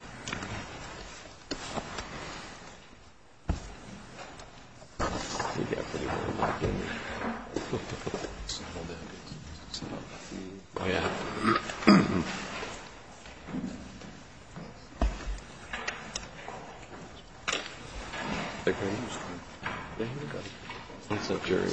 We've got pretty good luck in here. It's not all bad, it's not all bad. Oh yeah. The green is good. It's not jury.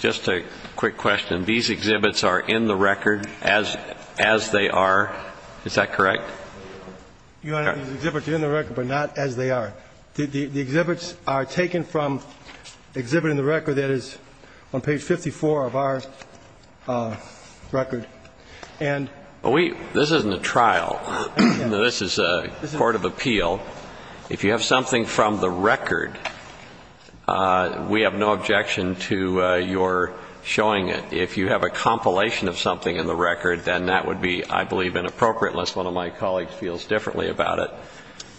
Just a quick question. These exhibits are in the record as they are. Is that correct? Your Honor, these exhibits are in the record but not as they are. The exhibits are taken from an exhibit in the record that is on page 54 of our record. This isn't a trial. This is a court of appeal. If you have something from the record, we have no objection to your showing it. If you have a compilation of something in the record, then that would be, I believe, inappropriate unless one of my colleagues feels differently about it.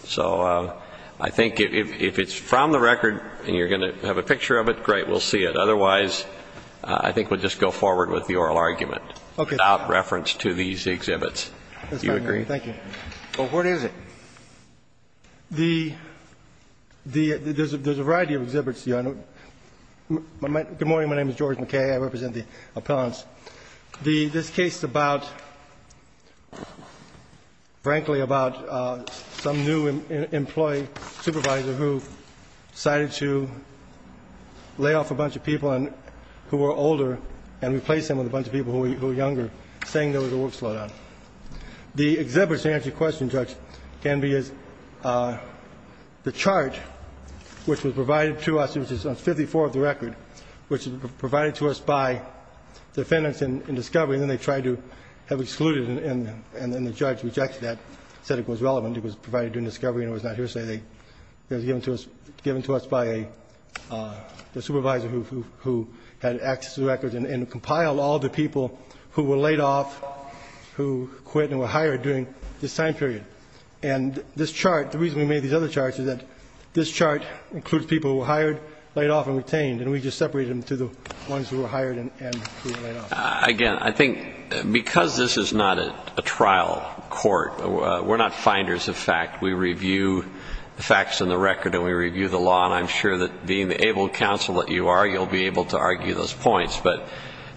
So I think if it's from the record and you're going to have a picture of it, great, we'll see it. Otherwise, I think we'll just go forward with the oral argument. Okay. Without reference to these exhibits. Thank you. What is it? There's a variety of exhibits. Good morning. My name is George McKay. I represent the appellants. This case is about, frankly, about some new employee supervisor who decided to lay off a bunch of people who were older and replace them with a bunch of people who were younger, saying there was a work slowdown. The exhibits to answer your question, Judge, can be as the chart, which was provided to us, which is on 54 of the record, which was provided to us by defendants in discovery, and then they tried to have it excluded, and then the judge rejected that, said it was relevant, it was provided during discovery and it was not hearsay. It was given to us by the supervisor who had access to the records and compiled all the people who were laid off, who quit and were hired during this time period. And this chart, the reason we made these other charts is that this chart includes people who were hired, laid off and retained, and we just separated them to the ones who were hired and who were laid off. Again, I think because this is not a trial court, we're not finders of fact. We review the facts in the record and we review the law, and I'm sure that being the able counsel that you are, you'll be able to argue those points. But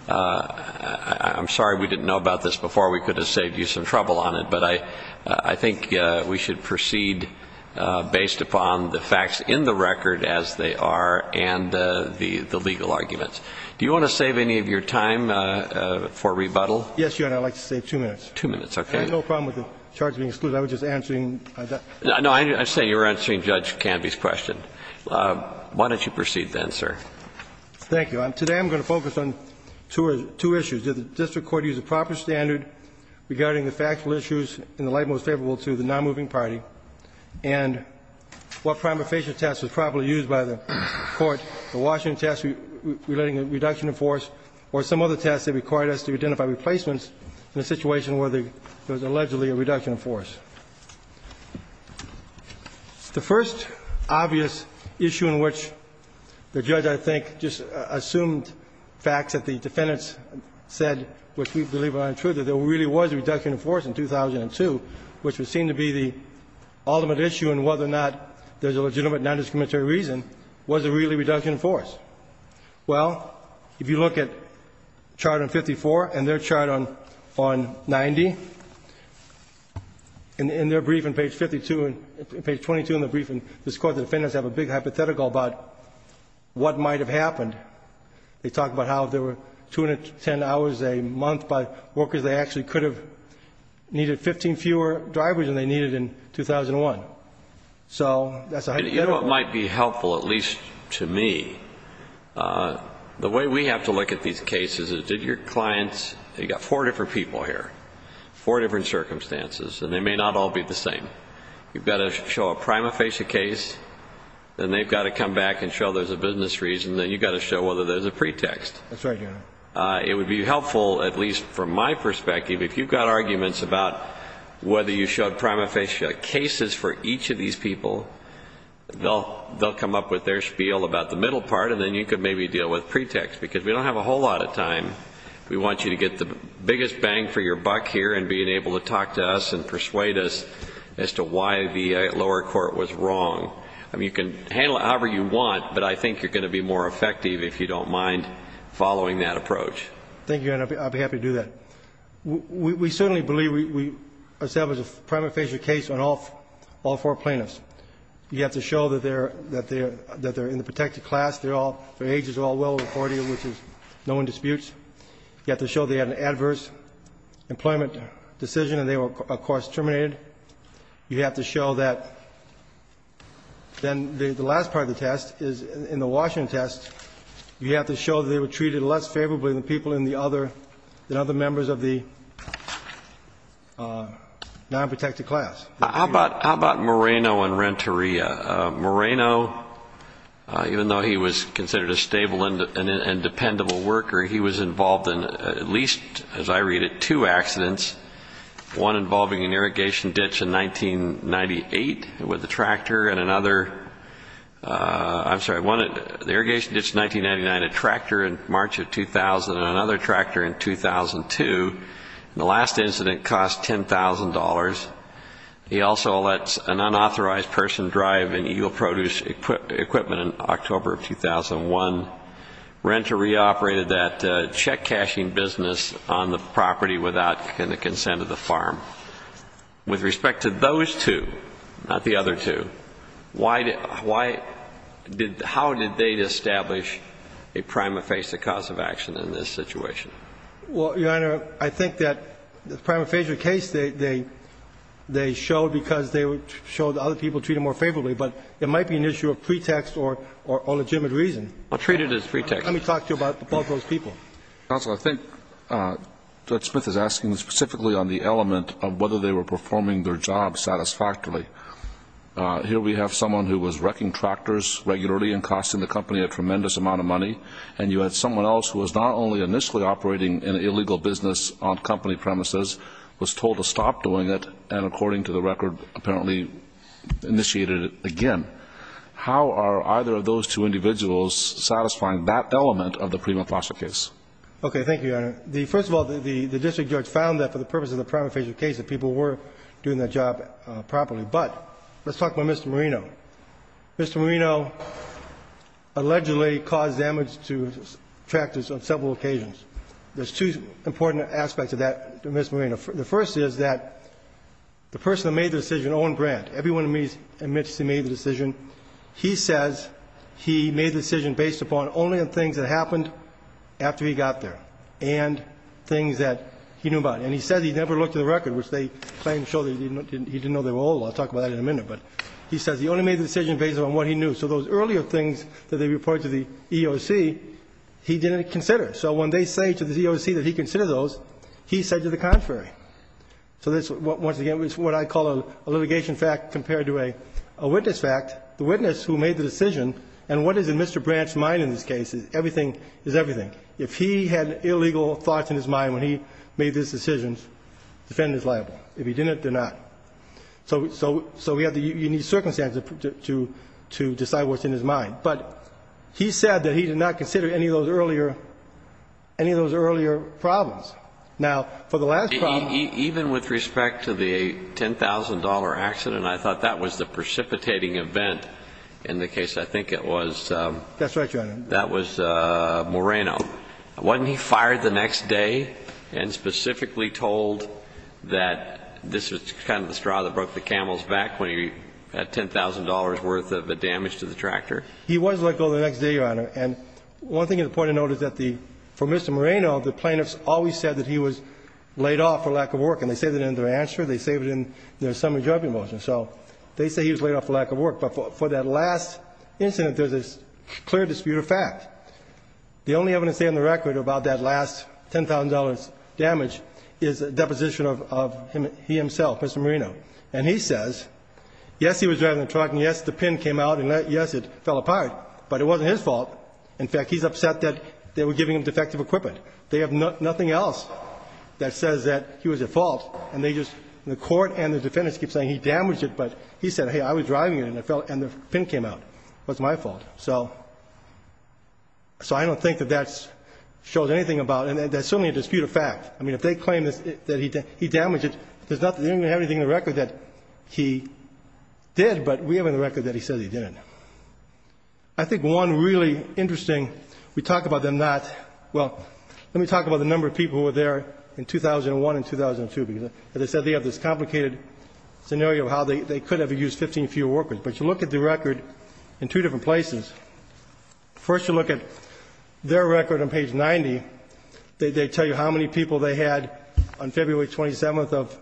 I'm sorry we didn't know about this before. We could have saved you some trouble on it. But I think we should proceed based upon the facts in the record as they are and the legal arguments. Do you want to save any of your time for rebuttal? Yes, Your Honor. I'd like to save two minutes. Two minutes, okay. I have no problem with the charts being excluded. I was just answering. No, I'm saying you were answering Judge Canby's question. Why don't you proceed then, sir? Thank you. Today I'm going to focus on two issues. Did the district court use a proper standard regarding the factual issues in the light most favorable to the nonmoving party? And what primary facial test was properly used by the court, the Washington test relating to reduction of force, or some other test that required us to identify replacements in a situation where there was allegedly a reduction of force? The first obvious issue in which the judge, I think, just assumed facts that the defendants said, which we believe are untrue, that there really was a reduction of force in 2002, which would seem to be the ultimate issue in whether or not there's a legitimate nondiscriminatory reason, was there really a reduction of force? Well, if you look at chart on 54 and their chart on 90, in their brief on page 52 and page 22 in the brief, this Court, the defendants have a big hypothetical about what might have happened. They talk about how if there were 210 hours a month by workers, they actually could have needed 15 fewer drivers than they needed in 2001. So that's a hypothetical. You know what might be helpful, at least to me, the way we have to look at these cases is did your clients, you've got four different people here, four different circumstances, and they may not all be the same. You've got to show a primary facial case, then they've got to come back and show there's a business reason, then you've got to show whether there's a pretext. That's right, Your Honor. It would be helpful, at least from my perspective, if you've got arguments about whether you showed primary facial cases for each of these people, they'll come up with their spiel about the middle part, and then you could maybe deal with pretext, because we don't have a whole lot of time. We want you to get the biggest bang for your buck here in being able to talk to us and persuade us as to why the lower court was wrong. You can handle it however you want, but I think you're going to be more effective if you don't mind following that approach. Thank you, Your Honor. I'd be happy to do that. We certainly believe we established a primary facial case on all four plaintiffs. You have to show that they're in the protected class, their ages are all well over 40, which no one disputes. You have to show they had an adverse employment decision and they were, of course, terminated. You have to show that. Then the last part of the test is in the Washington test, you have to show that they were treated less favorably than people in the other, than other members of the non-protected class. How about Moreno and Renteria? Moreno, even though he was considered a stable and dependable worker, he was involved in at least, as I read it, two accidents, one involving an irrigation ditch in 1998 with a tractor, and another, I'm sorry, the irrigation ditch in 1999, a tractor in March of 2000, and another tractor in 2002. The last incident cost $10,000. He also lets an unauthorized person drive and yield produce equipment in October of 2001. Renteria operated that check-cashing business on the property without the consent of the farm. With respect to those two, not the other two, how did they establish a prima facie cause of action in this situation? Well, Your Honor, I think that the prima facie case they showed because they showed other people treated more favorably, but it might be an issue of pretext or legitimate reason. Treated as pretext. Let me talk to you about those people. Counsel, I think Judge Smith is asking specifically on the element of whether they were performing their job satisfactorily. Here we have someone who was wrecking tractors regularly and costing the company a tremendous amount of money, and you had someone else who was not only initially operating an illegal business on company premises, was told to stop doing it, and according to the record, apparently initiated it again. How are either of those two individuals satisfying that element of the prima facie case? Okay. Thank you, Your Honor. First of all, the district judge found that for the purpose of the prima facie case that people were doing their job properly. But let's talk about Mr. Marino. Mr. Marino allegedly caused damage to tractors on several occasions. There's two important aspects of that to Mr. Marino. The first is that the person that made the decision, Owen Brandt, everyone admits he made the decision. He says he made the decision based upon only the things that happened after he got there and things that he knew about. And he said he never looked at the record, which they claim to show that he didn't know they were old. I'll talk about that in a minute. But he says he only made the decision based on what he knew. So those earlier things that they reported to the EEOC, he didn't consider. So when they say to the EEOC that he considered those, he said to the contrary. So that's, once again, what I call a litigation fact compared to a witness fact. The witness who made the decision, and what is in Mr. Brandt's mind in this case, everything is everything. If he had illegal thoughts in his mind when he made these decisions, the defendant is liable. If he didn't, they're not. So we have the unique circumstances to decide what's in his mind. But he said that he did not consider any of those earlier problems. Now, for the last problem. Even with respect to the $10,000 accident, I thought that was the precipitating event in the case. I think it was. That's right, Your Honor. That was Moreno. Wasn't he fired the next day and specifically told that this was kind of the straw that broke the camel's back when he had $10,000 worth of damage to the tractor? He was let go the next day, Your Honor. And one thing to point out is that for Mr. Moreno, the plaintiffs always said that he was laid off for lack of work. And they say that in their answer. They say it in their summary judgment motion. So they say he was laid off for lack of work. But for that last incident, there's a clear dispute of fact. The only evidence they have on the record about that last $10,000 damage is a composition of he himself, Mr. Moreno. And he says, yes, he was driving the truck and, yes, the pin came out and, yes, it fell apart. But it wasn't his fault. In fact, he's upset that they were giving him defective equipment. They have nothing else that says that he was at fault. And they just the court and the defendants keep saying he damaged it. But he said, hey, I was driving it and it fell and the pin came out. It wasn't my fault. So I don't think that that shows anything about it. And there's certainly a dispute of fact. I mean, if they claim that he damaged it, there's nothing. They don't even have anything on the record that he did. But we have it on the record that he said he didn't. I think one really interesting, we talk about them not ñ well, let me talk about the number of people who were there in 2001 and 2002. As I said, they have this complicated scenario of how they could have used 15 fewer workers. But you look at the record in two different places. First, you look at their record on page 90. They tell you how many people they had on February 27th of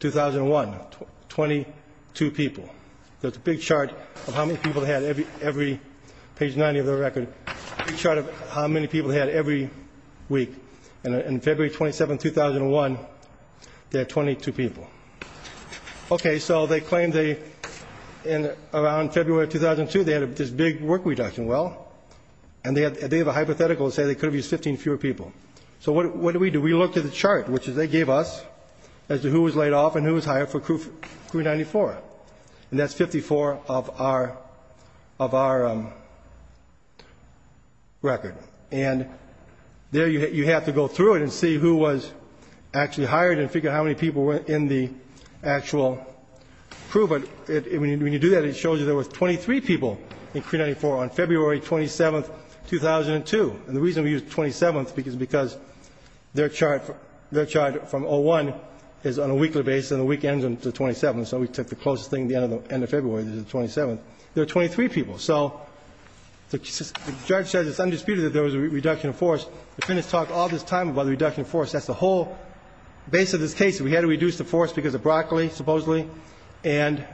2001. Twenty-two people. There's a big chart of how many people they had every ñ page 90 of their record. A chart of how many people they had every week. And on February 27th, 2001, they had 22 people. Okay. So they claim they ñ around February 2002, they had this big work reduction. And they have a hypothetical to say they could have used 15 fewer people. So what do we do? We look at the chart, which they gave us, as to who was laid off and who was hired for Crew 94. And that's 54 of our record. And there you have to go through it and see who was actually hired and figure out how many people were in the actual crew. But when you do that, it shows you there was 23 people in Crew 94 on February 27th, 2002. And the reason we use 27th is because their chart from 01 is on a weekly basis and the week ends on the 27th. So we took the closest thing at the end of February, the 27th. There were 23 people. So the judge says it's undisputed that there was a reduction of force. The defendants talk all this time about the reduction of force. That's the whole base of this case. We had to reduce the force because of broccoli, supposedly, and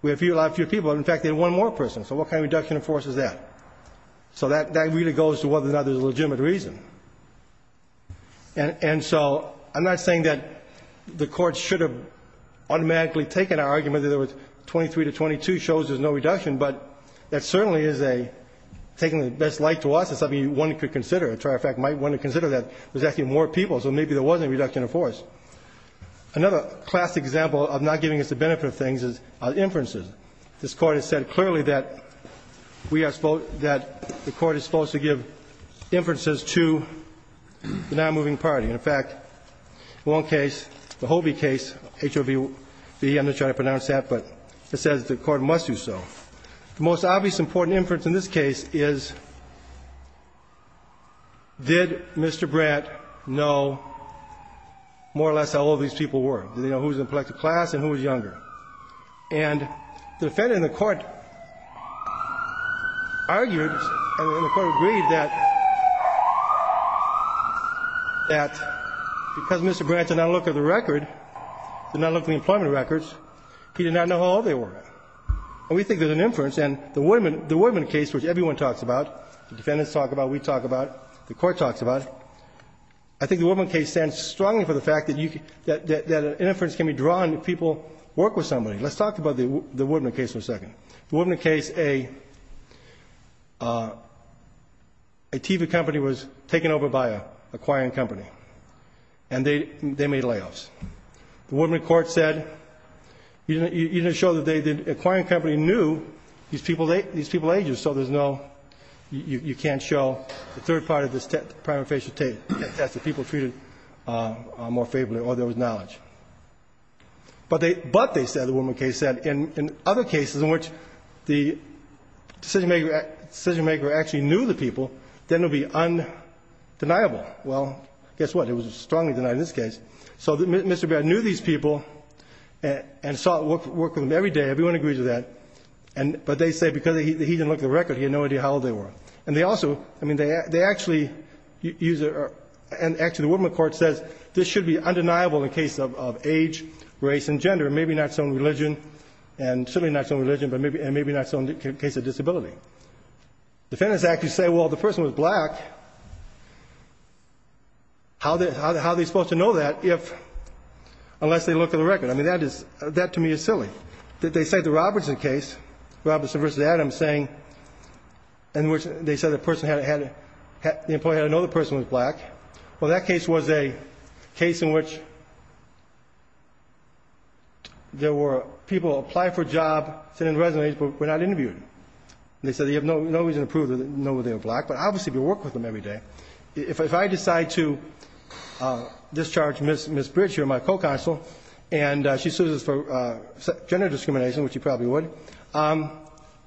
we have a lot fewer people. In fact, they had one more person. So what kind of reduction of force is that? So that really goes to whether or not there's a legitimate reason. And so I'm not saying that the court should have automatically taken our argument that there was 23 to 22 shows there's no reduction, but that certainly is taking the best light to us. It's something one could consider. A trier-of-fact might want to consider that there's actually more people, so maybe there wasn't a reduction of force. Another classic example of not giving us the benefit of things is inferences. This Court has said clearly that we are supposed to – that the Court is supposed to give inferences to the nonmoving party. In fact, one case, the Hovey case, H-O-V-E, I'm going to try to pronounce that, but it says the Court must do so. The most obvious important inference in this case is did Mr. Brandt know more or less how old these people were? Did he know who was in the collective class and who was younger? And the defendant in the Court argued and the Court agreed that because Mr. Brandt did not look at the record, did not look at the employment records, he did not know how old they were. And we think there's an inference. And the Woodman case, which everyone talks about, the defendants talk about, we talk about, the Court talks about, I think the Woodman case stands strongly for the fact that you can – that an inference can be drawn if people work with somebody. Let's talk about the Woodman case for a second. The Woodman case, a TV company was taken over by an acquiring company, and they made layoffs. The Woodman court said you didn't show that the acquiring company knew these people ages, so there's no – you can't show the third part of this primary facial tape. That's the people treated more favorably or there was knowledge. But they – but they said, the Woodman case said, in other cases in which the decision maker actually knew the people, then it would be undeniable. Well, guess what? It was strongly denied in this case. So Mr. Baird knew these people and saw – worked with them every day. Everyone agrees with that. And – but they say because he didn't look at the record, he had no idea how old they were. And they also – I mean, they actually use a – and actually the Woodman court says this should be undeniable in case of age, race, and gender, maybe not so in religion and certainly not so in religion, but maybe – and maybe not so in case of disability. Defendants actually say, well, the person was black. How – how are they supposed to know that if – unless they look at the record? I mean, that is – that to me is silly. They say the Robertson case, Robertson v. Adams, saying – in which they said the person had – the employee had to know the person was black. Well, that case was a case in which there were people who applied for a job, sitting in the residence, but were not interviewed. And they said you have no reason to prove that – know that they were black. But obviously we work with them every day. If I decide to discharge Ms. Bridge here, my co-counsel, and she sues us for gender discrimination, which you probably would, am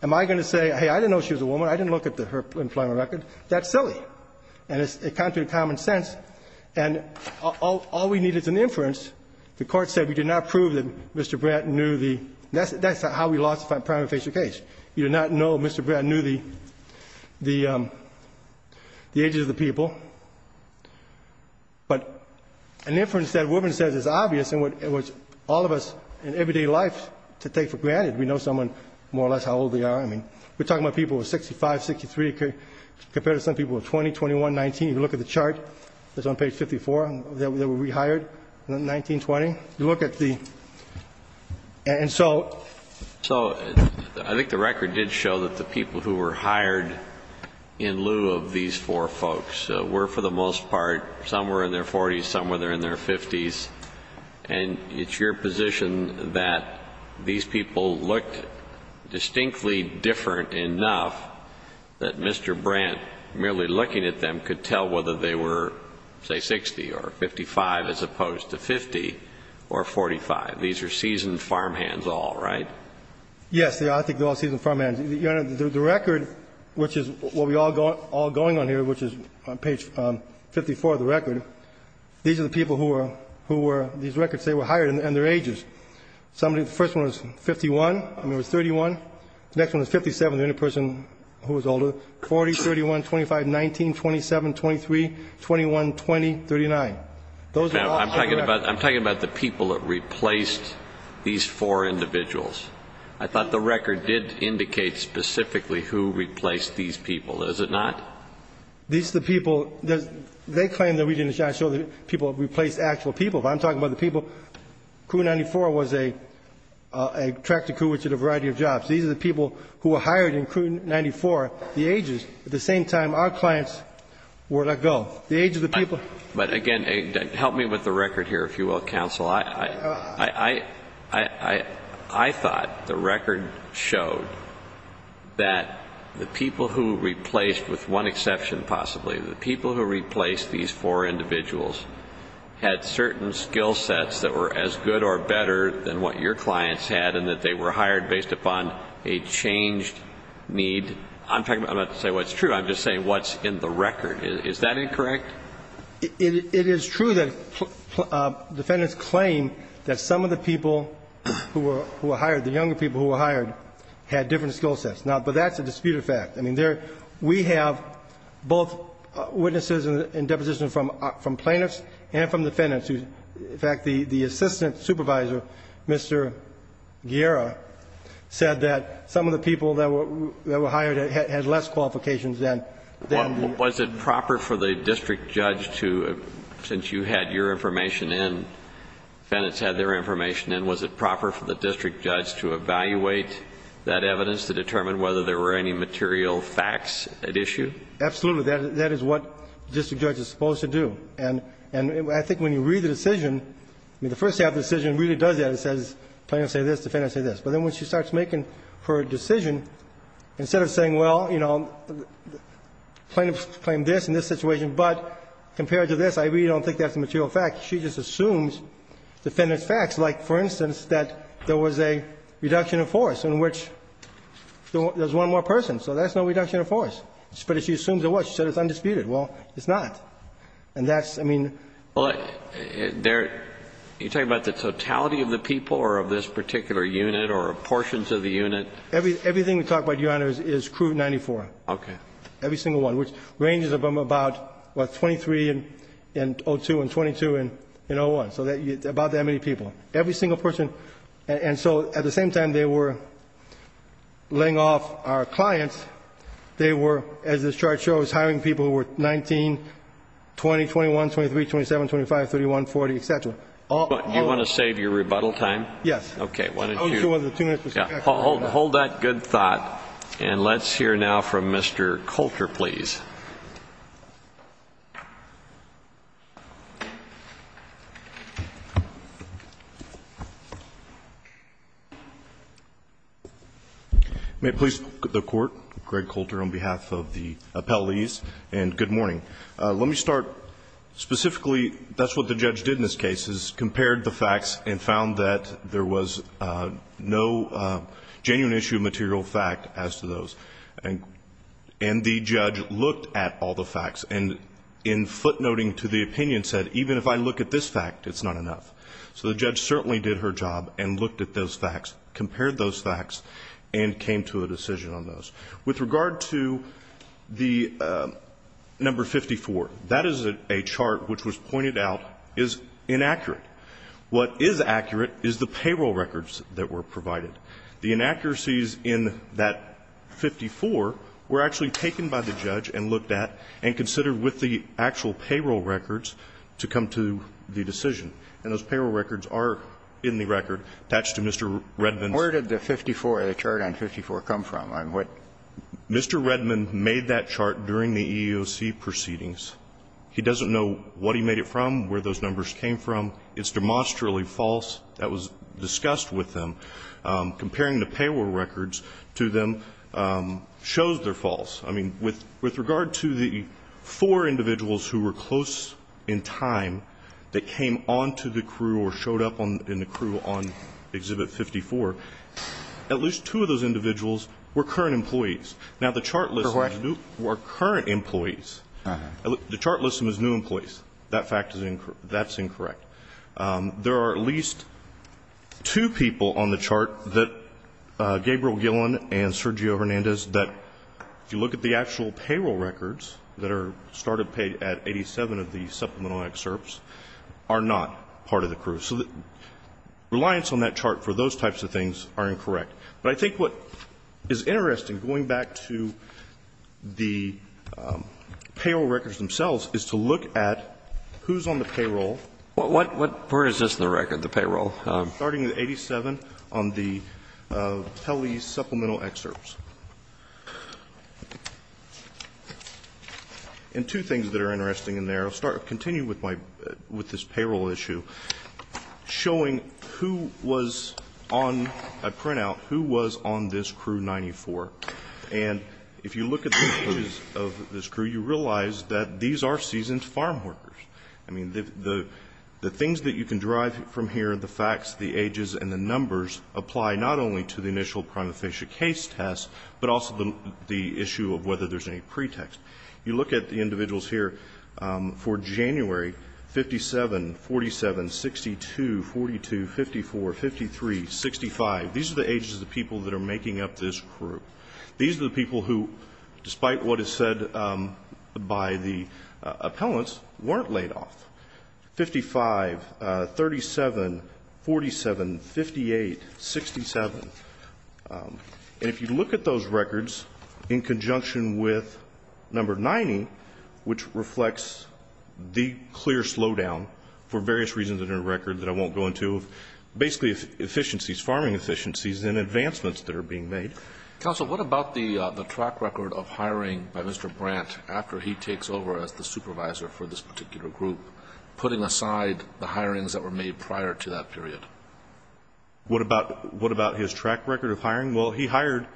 I going to say, hey, I didn't know she was a woman, I didn't look at her employment record? That's silly. And it's contrary to common sense. And all we need is an inference. The Court said we did not prove that Mr. Branton knew the – that's how we lost the primary facial case. You did not know Mr. Branton knew the ages of the people. But an inference that Woodman says is obvious and what all of us in everyday life to take for granted. We know someone more or less how old they are. I mean, we're talking about people who are 65, 63, compared to some people who are 20, 21, 19. If you look at the chart that's on page 54, they were rehired in 1920. You look at the – and so – But the record did show that the people who were hired in lieu of these four folks were, for the most part, some were in their 40s, some were in their 50s. And it's your position that these people looked distinctly different enough that Mr. Brant, merely looking at them, could tell whether they were, say, 60 or 55, as opposed to 50 or 45. These are seasoned farmhands all, right? Yes. I think they're all seasoned farmhands. Your Honor, the record, which is what we're all going on here, which is on page 54 of the record, these are the people who were – who were – these records say were hired and their ages. Somebody – the first one was 51. I mean, it was 31. The next one was 57, the only person who was older. 40, 31, 25, 19, 27, 23, 21, 20, 39. Those are all – I'm talking about – I'm talking about the people that replaced these four individuals. I thought the record did indicate specifically who replaced these people. Is it not? These are the people – they claim that we didn't show the people who replaced actual people. But I'm talking about the people – Crew 94 was a tractor crew which did a variety of jobs. These are the people who were hired in Crew 94, the ages. At the same time, our clients were let go. The age of the people – But, again, help me with the record here, if you will, Counsel. I thought the record showed that the people who replaced, with one exception possibly, the people who replaced these four individuals had certain skill sets that were as good or better than what your clients had and that they were hired based upon a changed need. I'm not saying what's true. I'm just saying what's in the record. Is that incorrect? It is true that defendants claim that some of the people who were hired, the younger people who were hired, had different skill sets. Now, but that's a disputed fact. I mean, there – we have both witnesses and depositions from plaintiffs and from defendants. In fact, the assistant supervisor, Mr. Guerra, said that some of the people that were hired had less qualifications than – Was it proper for the district judge to – since you had your information in, defendants had their information in, was it proper for the district judge to evaluate that evidence to determine whether there were any material facts at issue? Absolutely. That is what the district judge is supposed to do. And I think when you read the decision – I mean, the first half of the decision really does that. It says plaintiffs say this, defendants say this. But then when she starts making her decision, instead of saying, well, you know, plaintiffs claim this in this situation, but compared to this, I really don't think that's a material fact, she just assumes defendant's facts, like, for instance, that there was a reduction of force in which there was one more person. So that's no reduction of force. But she assumes it was. She said it's undisputed. Well, it's not. And that's, I mean – Well, you're talking about the totality of the people or of this particular unit or portions of the unit? Everything we talk about, Your Honor, is crude 94. Okay. Every single one, which ranges from about 23 in 02 and 22 in 01. So about that many people. Every single person. And so at the same time they were letting off our clients, they were, as this chart shows, hiring people who were 19, 20, 21, 23, 27, 25, 31, 40, et cetera. Do you want to save your rebuttal time? Yes. Okay. Hold that good thought. And let's hear now from Mr. Coulter, please. May it please the Court? Greg Coulter on behalf of the appellees. And good morning. Let me start specifically, that's what the judge did in this case, is compared the facts and found that there was no genuine issue of material fact as to those. And the judge looked at all the facts and in footnoting to the opinion said, even if I look at this fact, it's not enough. So the judge certainly did her job and looked at those facts, compared those facts, and came to a decision on those. With regard to the number 54, that is a chart which was pointed out is inaccurate. What is accurate is the payroll records that were provided. The inaccuracies in that 54 were actually taken by the judge and looked at and considered with the actual payroll records to come to the decision. And those payroll records are in the record attached to Mr. Redman's. Where did the 54, the chart on 54 come from? Mr. Redman made that chart during the EEOC proceedings. He doesn't know what he made it from, where those numbers came from. It's demonstrably false. That was discussed with him. Comparing the payroll records to them shows they're false. I mean, with regard to the four individuals who were close in time that came on to the crew or showed up in the crew on Exhibit 54, at least two of those individuals were current employees. Now, the chart lists them as new employees. That fact is incorrect. There are at least two people on the chart that, Gabriel Gillen and Sergio Hernandez, that if you look at the actual payroll records that are started paid at 87 of the supplemental excerpts, are not part of the crew. So the reliance on that chart for those types of things are incorrect. But I think what is interesting, going back to the payroll records themselves, is to look at who's on the payroll. What part is this in the record, the payroll? Starting at 87 on the tele-supplemental excerpts. And two things that are interesting in there. I'll continue with this payroll issue. Showing who was on, I print out, who was on this crew 94. And if you look at the ages of this crew, you realize that these are seasoned farm workers. I mean, the things that you can derive from here, the facts, the ages and the numbers apply not only to the initial prima facie case test, but also the issue of whether there's any pretext. You look at the individuals here for January 57, 47, 62, 42, 54, 53, 65. These are the ages of people that are making up this crew. These are the people who, despite what is said by the appellants, weren't laid off. 55, 37, 47, 58, 67. And if you look at those records in conjunction with number 90, which reflects the clear slowdown for various reasons in the record that I won't go into, basically efficiencies, farming efficiencies and advancements that are being made. Counsel, what about the track record of hiring by Mr. Brandt after he takes over as the supervisor for this particular group, putting aside the hirings that were made prior to that period? What about his track record of hiring? Well, he hired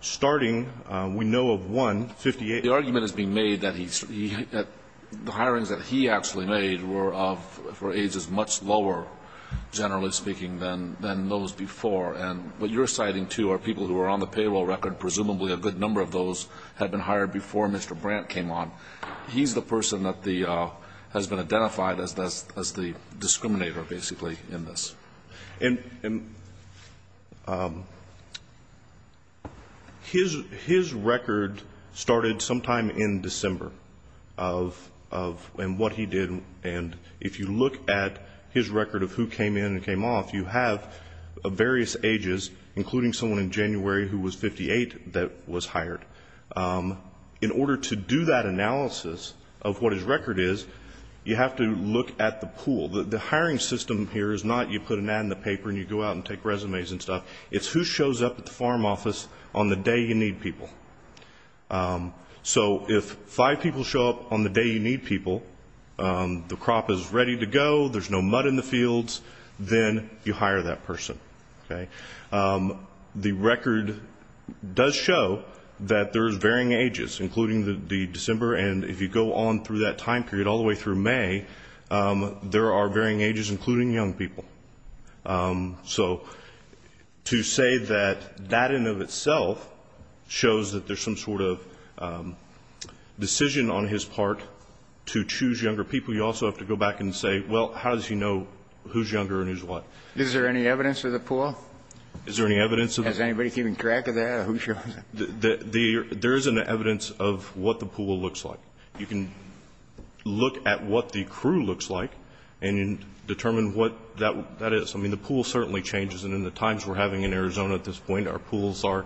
starting, we know, of 1, 58. The argument is being made that the hirings that he actually made were of, for ages much lower, generally speaking, than those before. And what you're citing, too, are people who are on the payroll record. Presumably a good number of those had been hired before Mr. Brandt came on. He's the person that has been identified as the discriminator, basically, in this. And his record started sometime in December of what he did. And if you look at his record of who came in and came off, you have various ages, including someone in January who was 58 that was hired. In order to do that analysis of what his record is, you have to look at the pool. The hiring system here is not you put an ad in the paper and you go out and take resumes and stuff. It's who shows up at the farm office on the day you need people. So if five people show up on the day you need people, the crop is ready to go, there's no mud in the fields, then you hire that person. The record does show that there's varying ages, including the December, and if you go on through that time period all the way through May, there are varying ages, including young people. So to say that that in and of itself shows that there's some sort of decision on his part to choose younger people, you also have to go back and say, well, how does he know who's younger and who's what? Is there any evidence of the pool? Is there any evidence of it? Is anybody keeping track of that or who shows up? There isn't evidence of what the pool looks like. You can look at what the crew looks like and determine what that is. I mean, the pool certainly changes, and in the times we're having in Arizona at this point, our pools are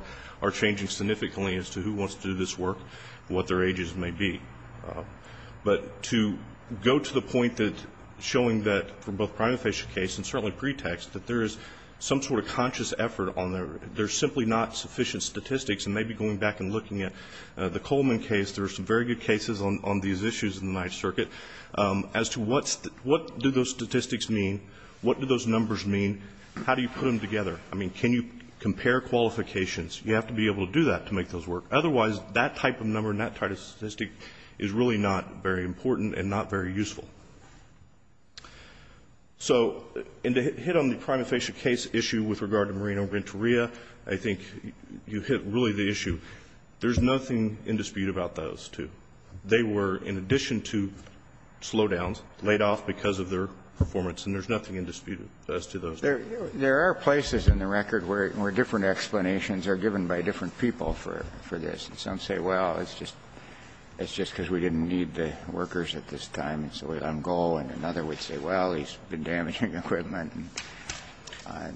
changing significantly as to who wants to do this work and what their ages may be. But to go to the point that showing that, from both prima facie case and certainly pretext, that there is some sort of conscious effort on there, there's simply not sufficient statistics. And maybe going back and looking at the Coleman case, there are some very good cases on these issues in the Ninth Circuit as to what do those statistics mean, what do those numbers mean, how do you put them together? I mean, can you compare qualifications? You have to be able to do that to make those work. Otherwise, that type of number and that type of statistic is really not very important and not very useful. So, and to hit on the prima facie case issue with regard to Moreno-Venturia, I think you hit really the issue. There's nothing in dispute about those two. They were, in addition to slowdowns, laid off because of their performance, and there's nothing in dispute as to those two. There are places in the record where different explanations are given by different people for this, and some say, well, it's just because we didn't need the workers at this time, so we let them go, and another would say, well, he's been damaging equipment, and, you know.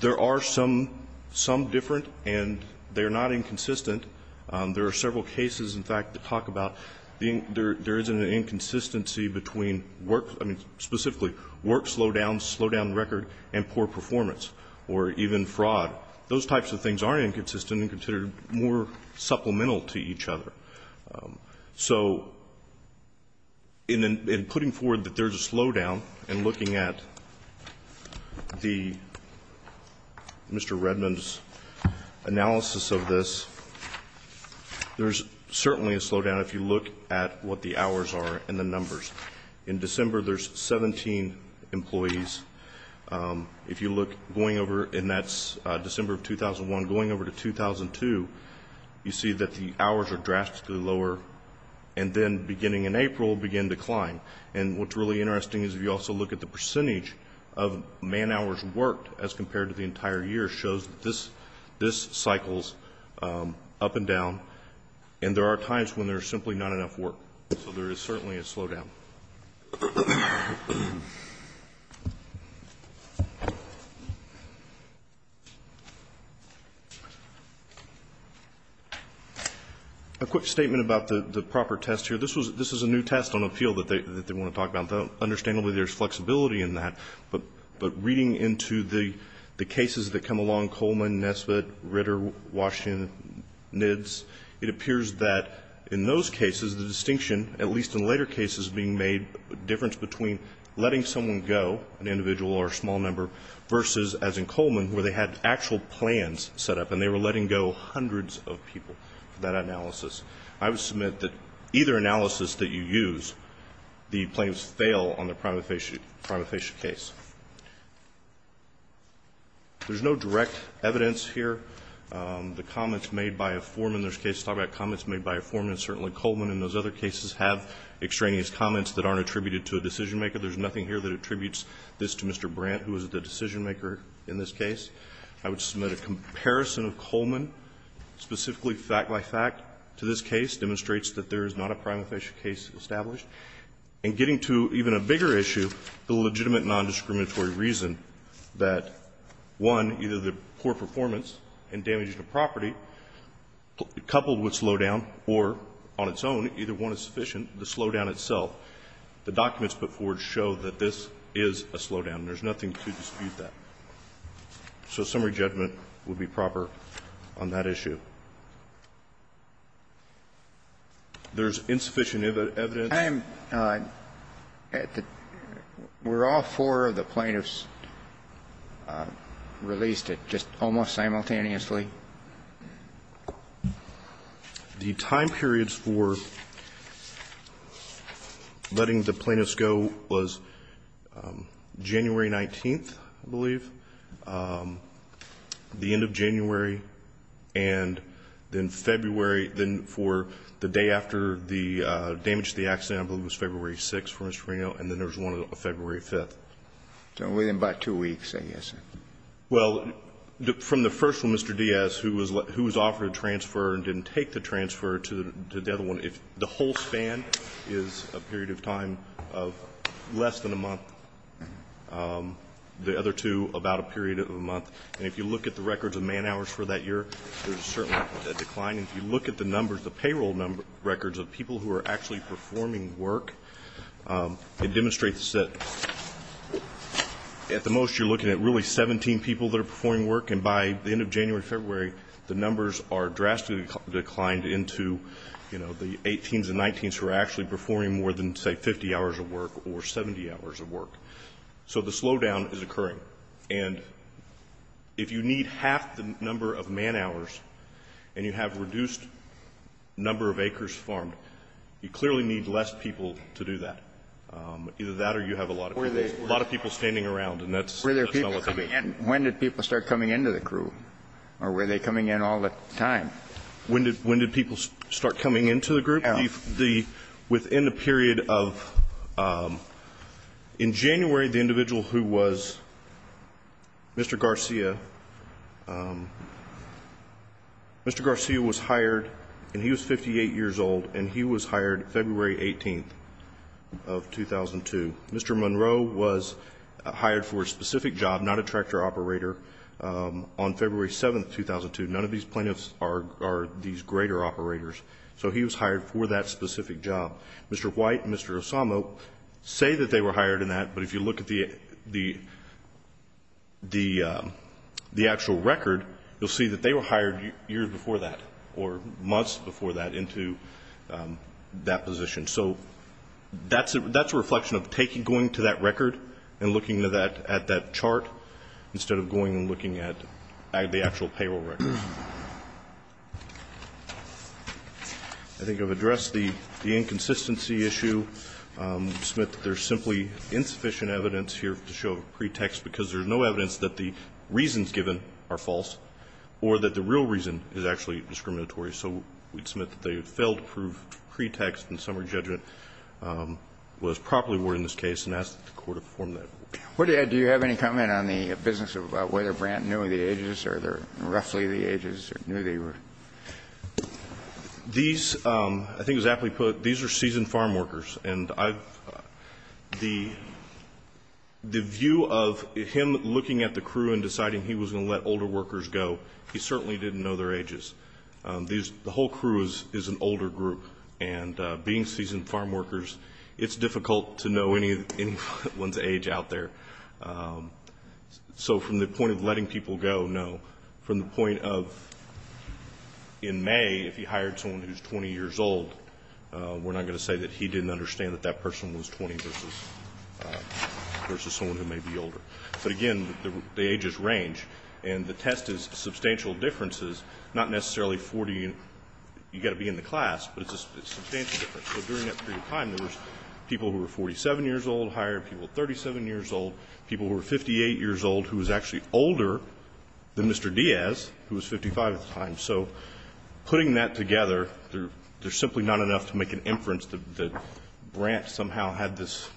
There are some different, and they're not inconsistent. There are several cases, in fact, that talk about there is an inconsistency between work, I mean, specifically, work slowdowns, slowdown record, and poor performance or even fraud. Those types of things aren't inconsistent and considered more supplemental to each other. So in putting forward that there's a slowdown and looking at Mr. Redman's analysis of this, there's certainly a slowdown if you look at what the hours are and the numbers. In December, there's 17 employees. If you look, going over, and that's December of 2001. Going over to 2002, you see that the hours are drastically lower, and then beginning in April, begin to climb. And what's really interesting is if you also look at the percentage of man-hours worked as compared to the entire year, shows that this cycles up and down. And there are times when there's simply not enough work. So there is certainly a slowdown. A quick statement about the proper test here. This was a new test on appeal that they want to talk about. Understandably, there's flexibility in that. But reading into the cases that come along, Coleman, Nesbitt, Ritter, Washington, NIDS, it appears that in those cases, the distinction, at least in later cases, being made, the difference between letting someone go, an individual or a small number, versus, as in Coleman, where they had actual plans set up, and they were letting go hundreds of people for that analysis. I would submit that either analysis that you use, the claims fail on the prima facie case. There's no direct evidence here. The comments made by a foreman, there's cases talking about comments made by a foreman, certainly Coleman, and those other cases have extraneous comments that aren't attributed to a decision-maker. There's nothing here that attributes this to Mr. Brandt, who is the decision-maker in this case. I would submit a comparison of Coleman, specifically fact by fact, to this case. Demonstrates that there is not a prima facie case established. And getting to even a bigger issue, the legitimate non-discriminatory reason that, one, either the poor performance and damage to property, coupled with slowdown, or on its own, either one is sufficient, the slowdown itself. The documents put forward show that this is a slowdown. There's nothing to dispute that. So summary judgment would be proper on that issue. There's insufficient evidence. Kennedy. We're all four of the plaintiffs released at just almost simultaneously. The time periods for letting the plaintiffs go was January 19th, I believe, the end of January, and then February, then for the day after the damage to the accident, I believe it was February 6th for Mr. Reno, and then there was one on February 5th. So within about two weeks, I guess. Well, from the first one, Mr. Diaz, who was offered a transfer and didn't take the transfer to the other one, the whole span is a period of time of less than a month. The other two, about a period of a month. And if you look at the records of man hours for that year, there's certainly a decline. And if you look at the numbers, the payroll records of people who are actually performing work, it demonstrates that at the most you're looking at really 17 people that are performing work. And by the end of January, February, the numbers are drastically declined into, you know, the 18s and 19s who are actually performing more than, say, 50 hours of work or 70 hours of work. So the slowdown is occurring. And if you need half the number of man hours and you have reduced number of acres farmed, you clearly need less people to do that. Either that or you have a lot of people standing around, and that's not what's going to happen. When did people start coming into the crew? Or were they coming in all the time? When did people start coming into the group? Within the period of, in January, the individual who was Mr. Garcia, Mr. Garcia was hired, and he was 58 years old, and he was hired February 18th of 2002. Mr. Monroe was hired for a specific job, not a tractor operator, on February 7th, 2002. None of these plaintiffs are these greater operators. So he was hired for that specific job. Mr. White and Mr. Osamo say that they were hired in that, but if you look at the before that into that position. So that's a reflection of going to that record and looking at that chart instead of going and looking at the actual payroll record. I think I've addressed the inconsistency issue. Smith, there's simply insufficient evidence here to show a pretext because there's no reason it's actually discriminatory. So we'd submit that they failed to prove pretext and summary judgment was properly worded in this case and ask that the court inform that. Do you have any comment on the business of whether Brandt knew the ages or roughly the ages or knew they were? These, I think it was aptly put, these are seasoned farm workers. And the view of him looking at the crew and deciding he was going to let older workers go, he certainly didn't know their ages. The whole crew is an older group, and being seasoned farm workers, it's difficult to know anyone's age out there. So from the point of letting people go, no. From the point of in May, if he hired someone who's 20 years old, we're not going to say that he didn't understand that that person was 20 versus someone who may be older. But again, the ages range, and the test is substantial differences, not necessarily 40, you've got to be in the class, but it's a substantial difference. So during that period of time, there was people who were 47 years old, hired people 37 years old, people who were 58 years old who was actually older than Mr. Diaz, who was 55 at the time. So putting that together, there's simply not enough to make an inference that Brandt somehow had this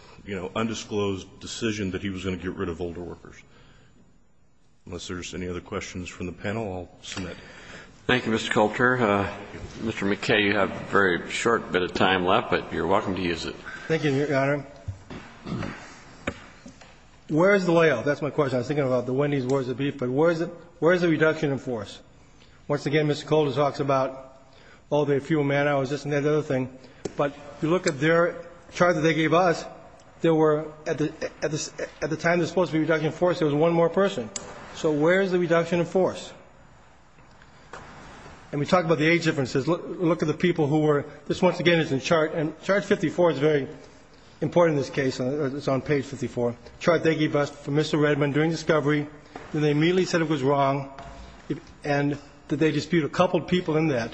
undisclosed decision that he was going to get rid of older workers. Unless there's any other questions from the panel, I'll submit. Thank you, Mr. Colter. Mr. McKay, you have a very short bit of time left, but you're welcome to use it. Thank you, Your Honor. Where is the layoff? That's my question. I was thinking about the Wendy's, where's the beef, but where is the reduction in force? Once again, Mr. Colter talks about, oh, they have fewer man hours, this and that, that and the other thing, but you look at their chart that they gave us, there were at the time there was supposed to be a reduction in force, there was one more person. So where is the reduction in force? And we talk about the age differences. Look at the people who were this once again is in chart, and chart 54 is very important in this case. It's on page 54. The chart they gave us for Mr. Redmond during discovery, and they immediately said it was wrong, and they dispute a couple of people in that,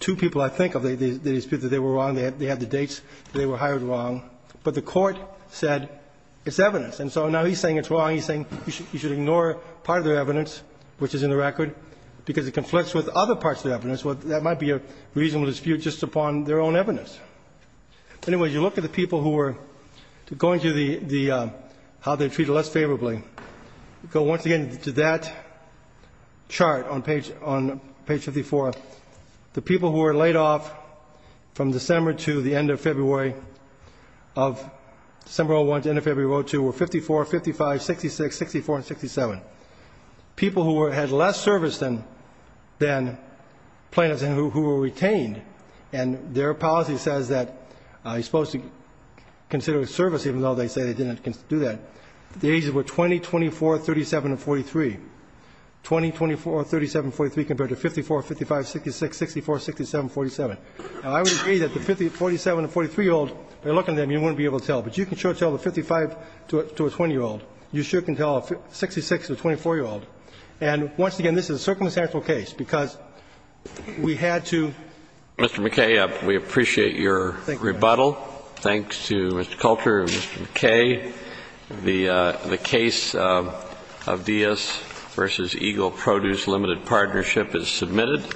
two people I think of, they dispute that they were wrong, they had the dates, they were hired wrong, but the court said it's evidence. And so now he's saying it's wrong. He's saying you should ignore part of the evidence, which is in the record, because it conflicts with other parts of the evidence. Well, that might be a reasonable dispute just upon their own evidence. Anyway, you look at the people who were going through the how they're treated less favorably. Go once again to that chart on page 54. The people who were laid off from December to the end of February of December 1 to the end of February 2 were 54, 55, 66, 64, and 67. People who had less service than plaintiffs and who were retained, and their policy says that you're supposed to consider service even though they say they didn't do that. The ages were 20, 24, 37, and 43. 20, 24, 37, and 43 compared to 54, 55, 66, 64, 67, and 47. Now, I would agree that the 50, 47, and 43-year-old, by looking at them, you wouldn't be able to tell. But you can sure tell the 55 to a 20-year-old. You sure can tell a 66 to a 24-year-old. And once again, this is a circumstantial case because we had to ---- Mr. McKay, we appreciate your rebuttal. Thanks to Mr. Coulter and Mr. McKay. The case of Diaz v. Eagle Produce Limited Partnership is submitted.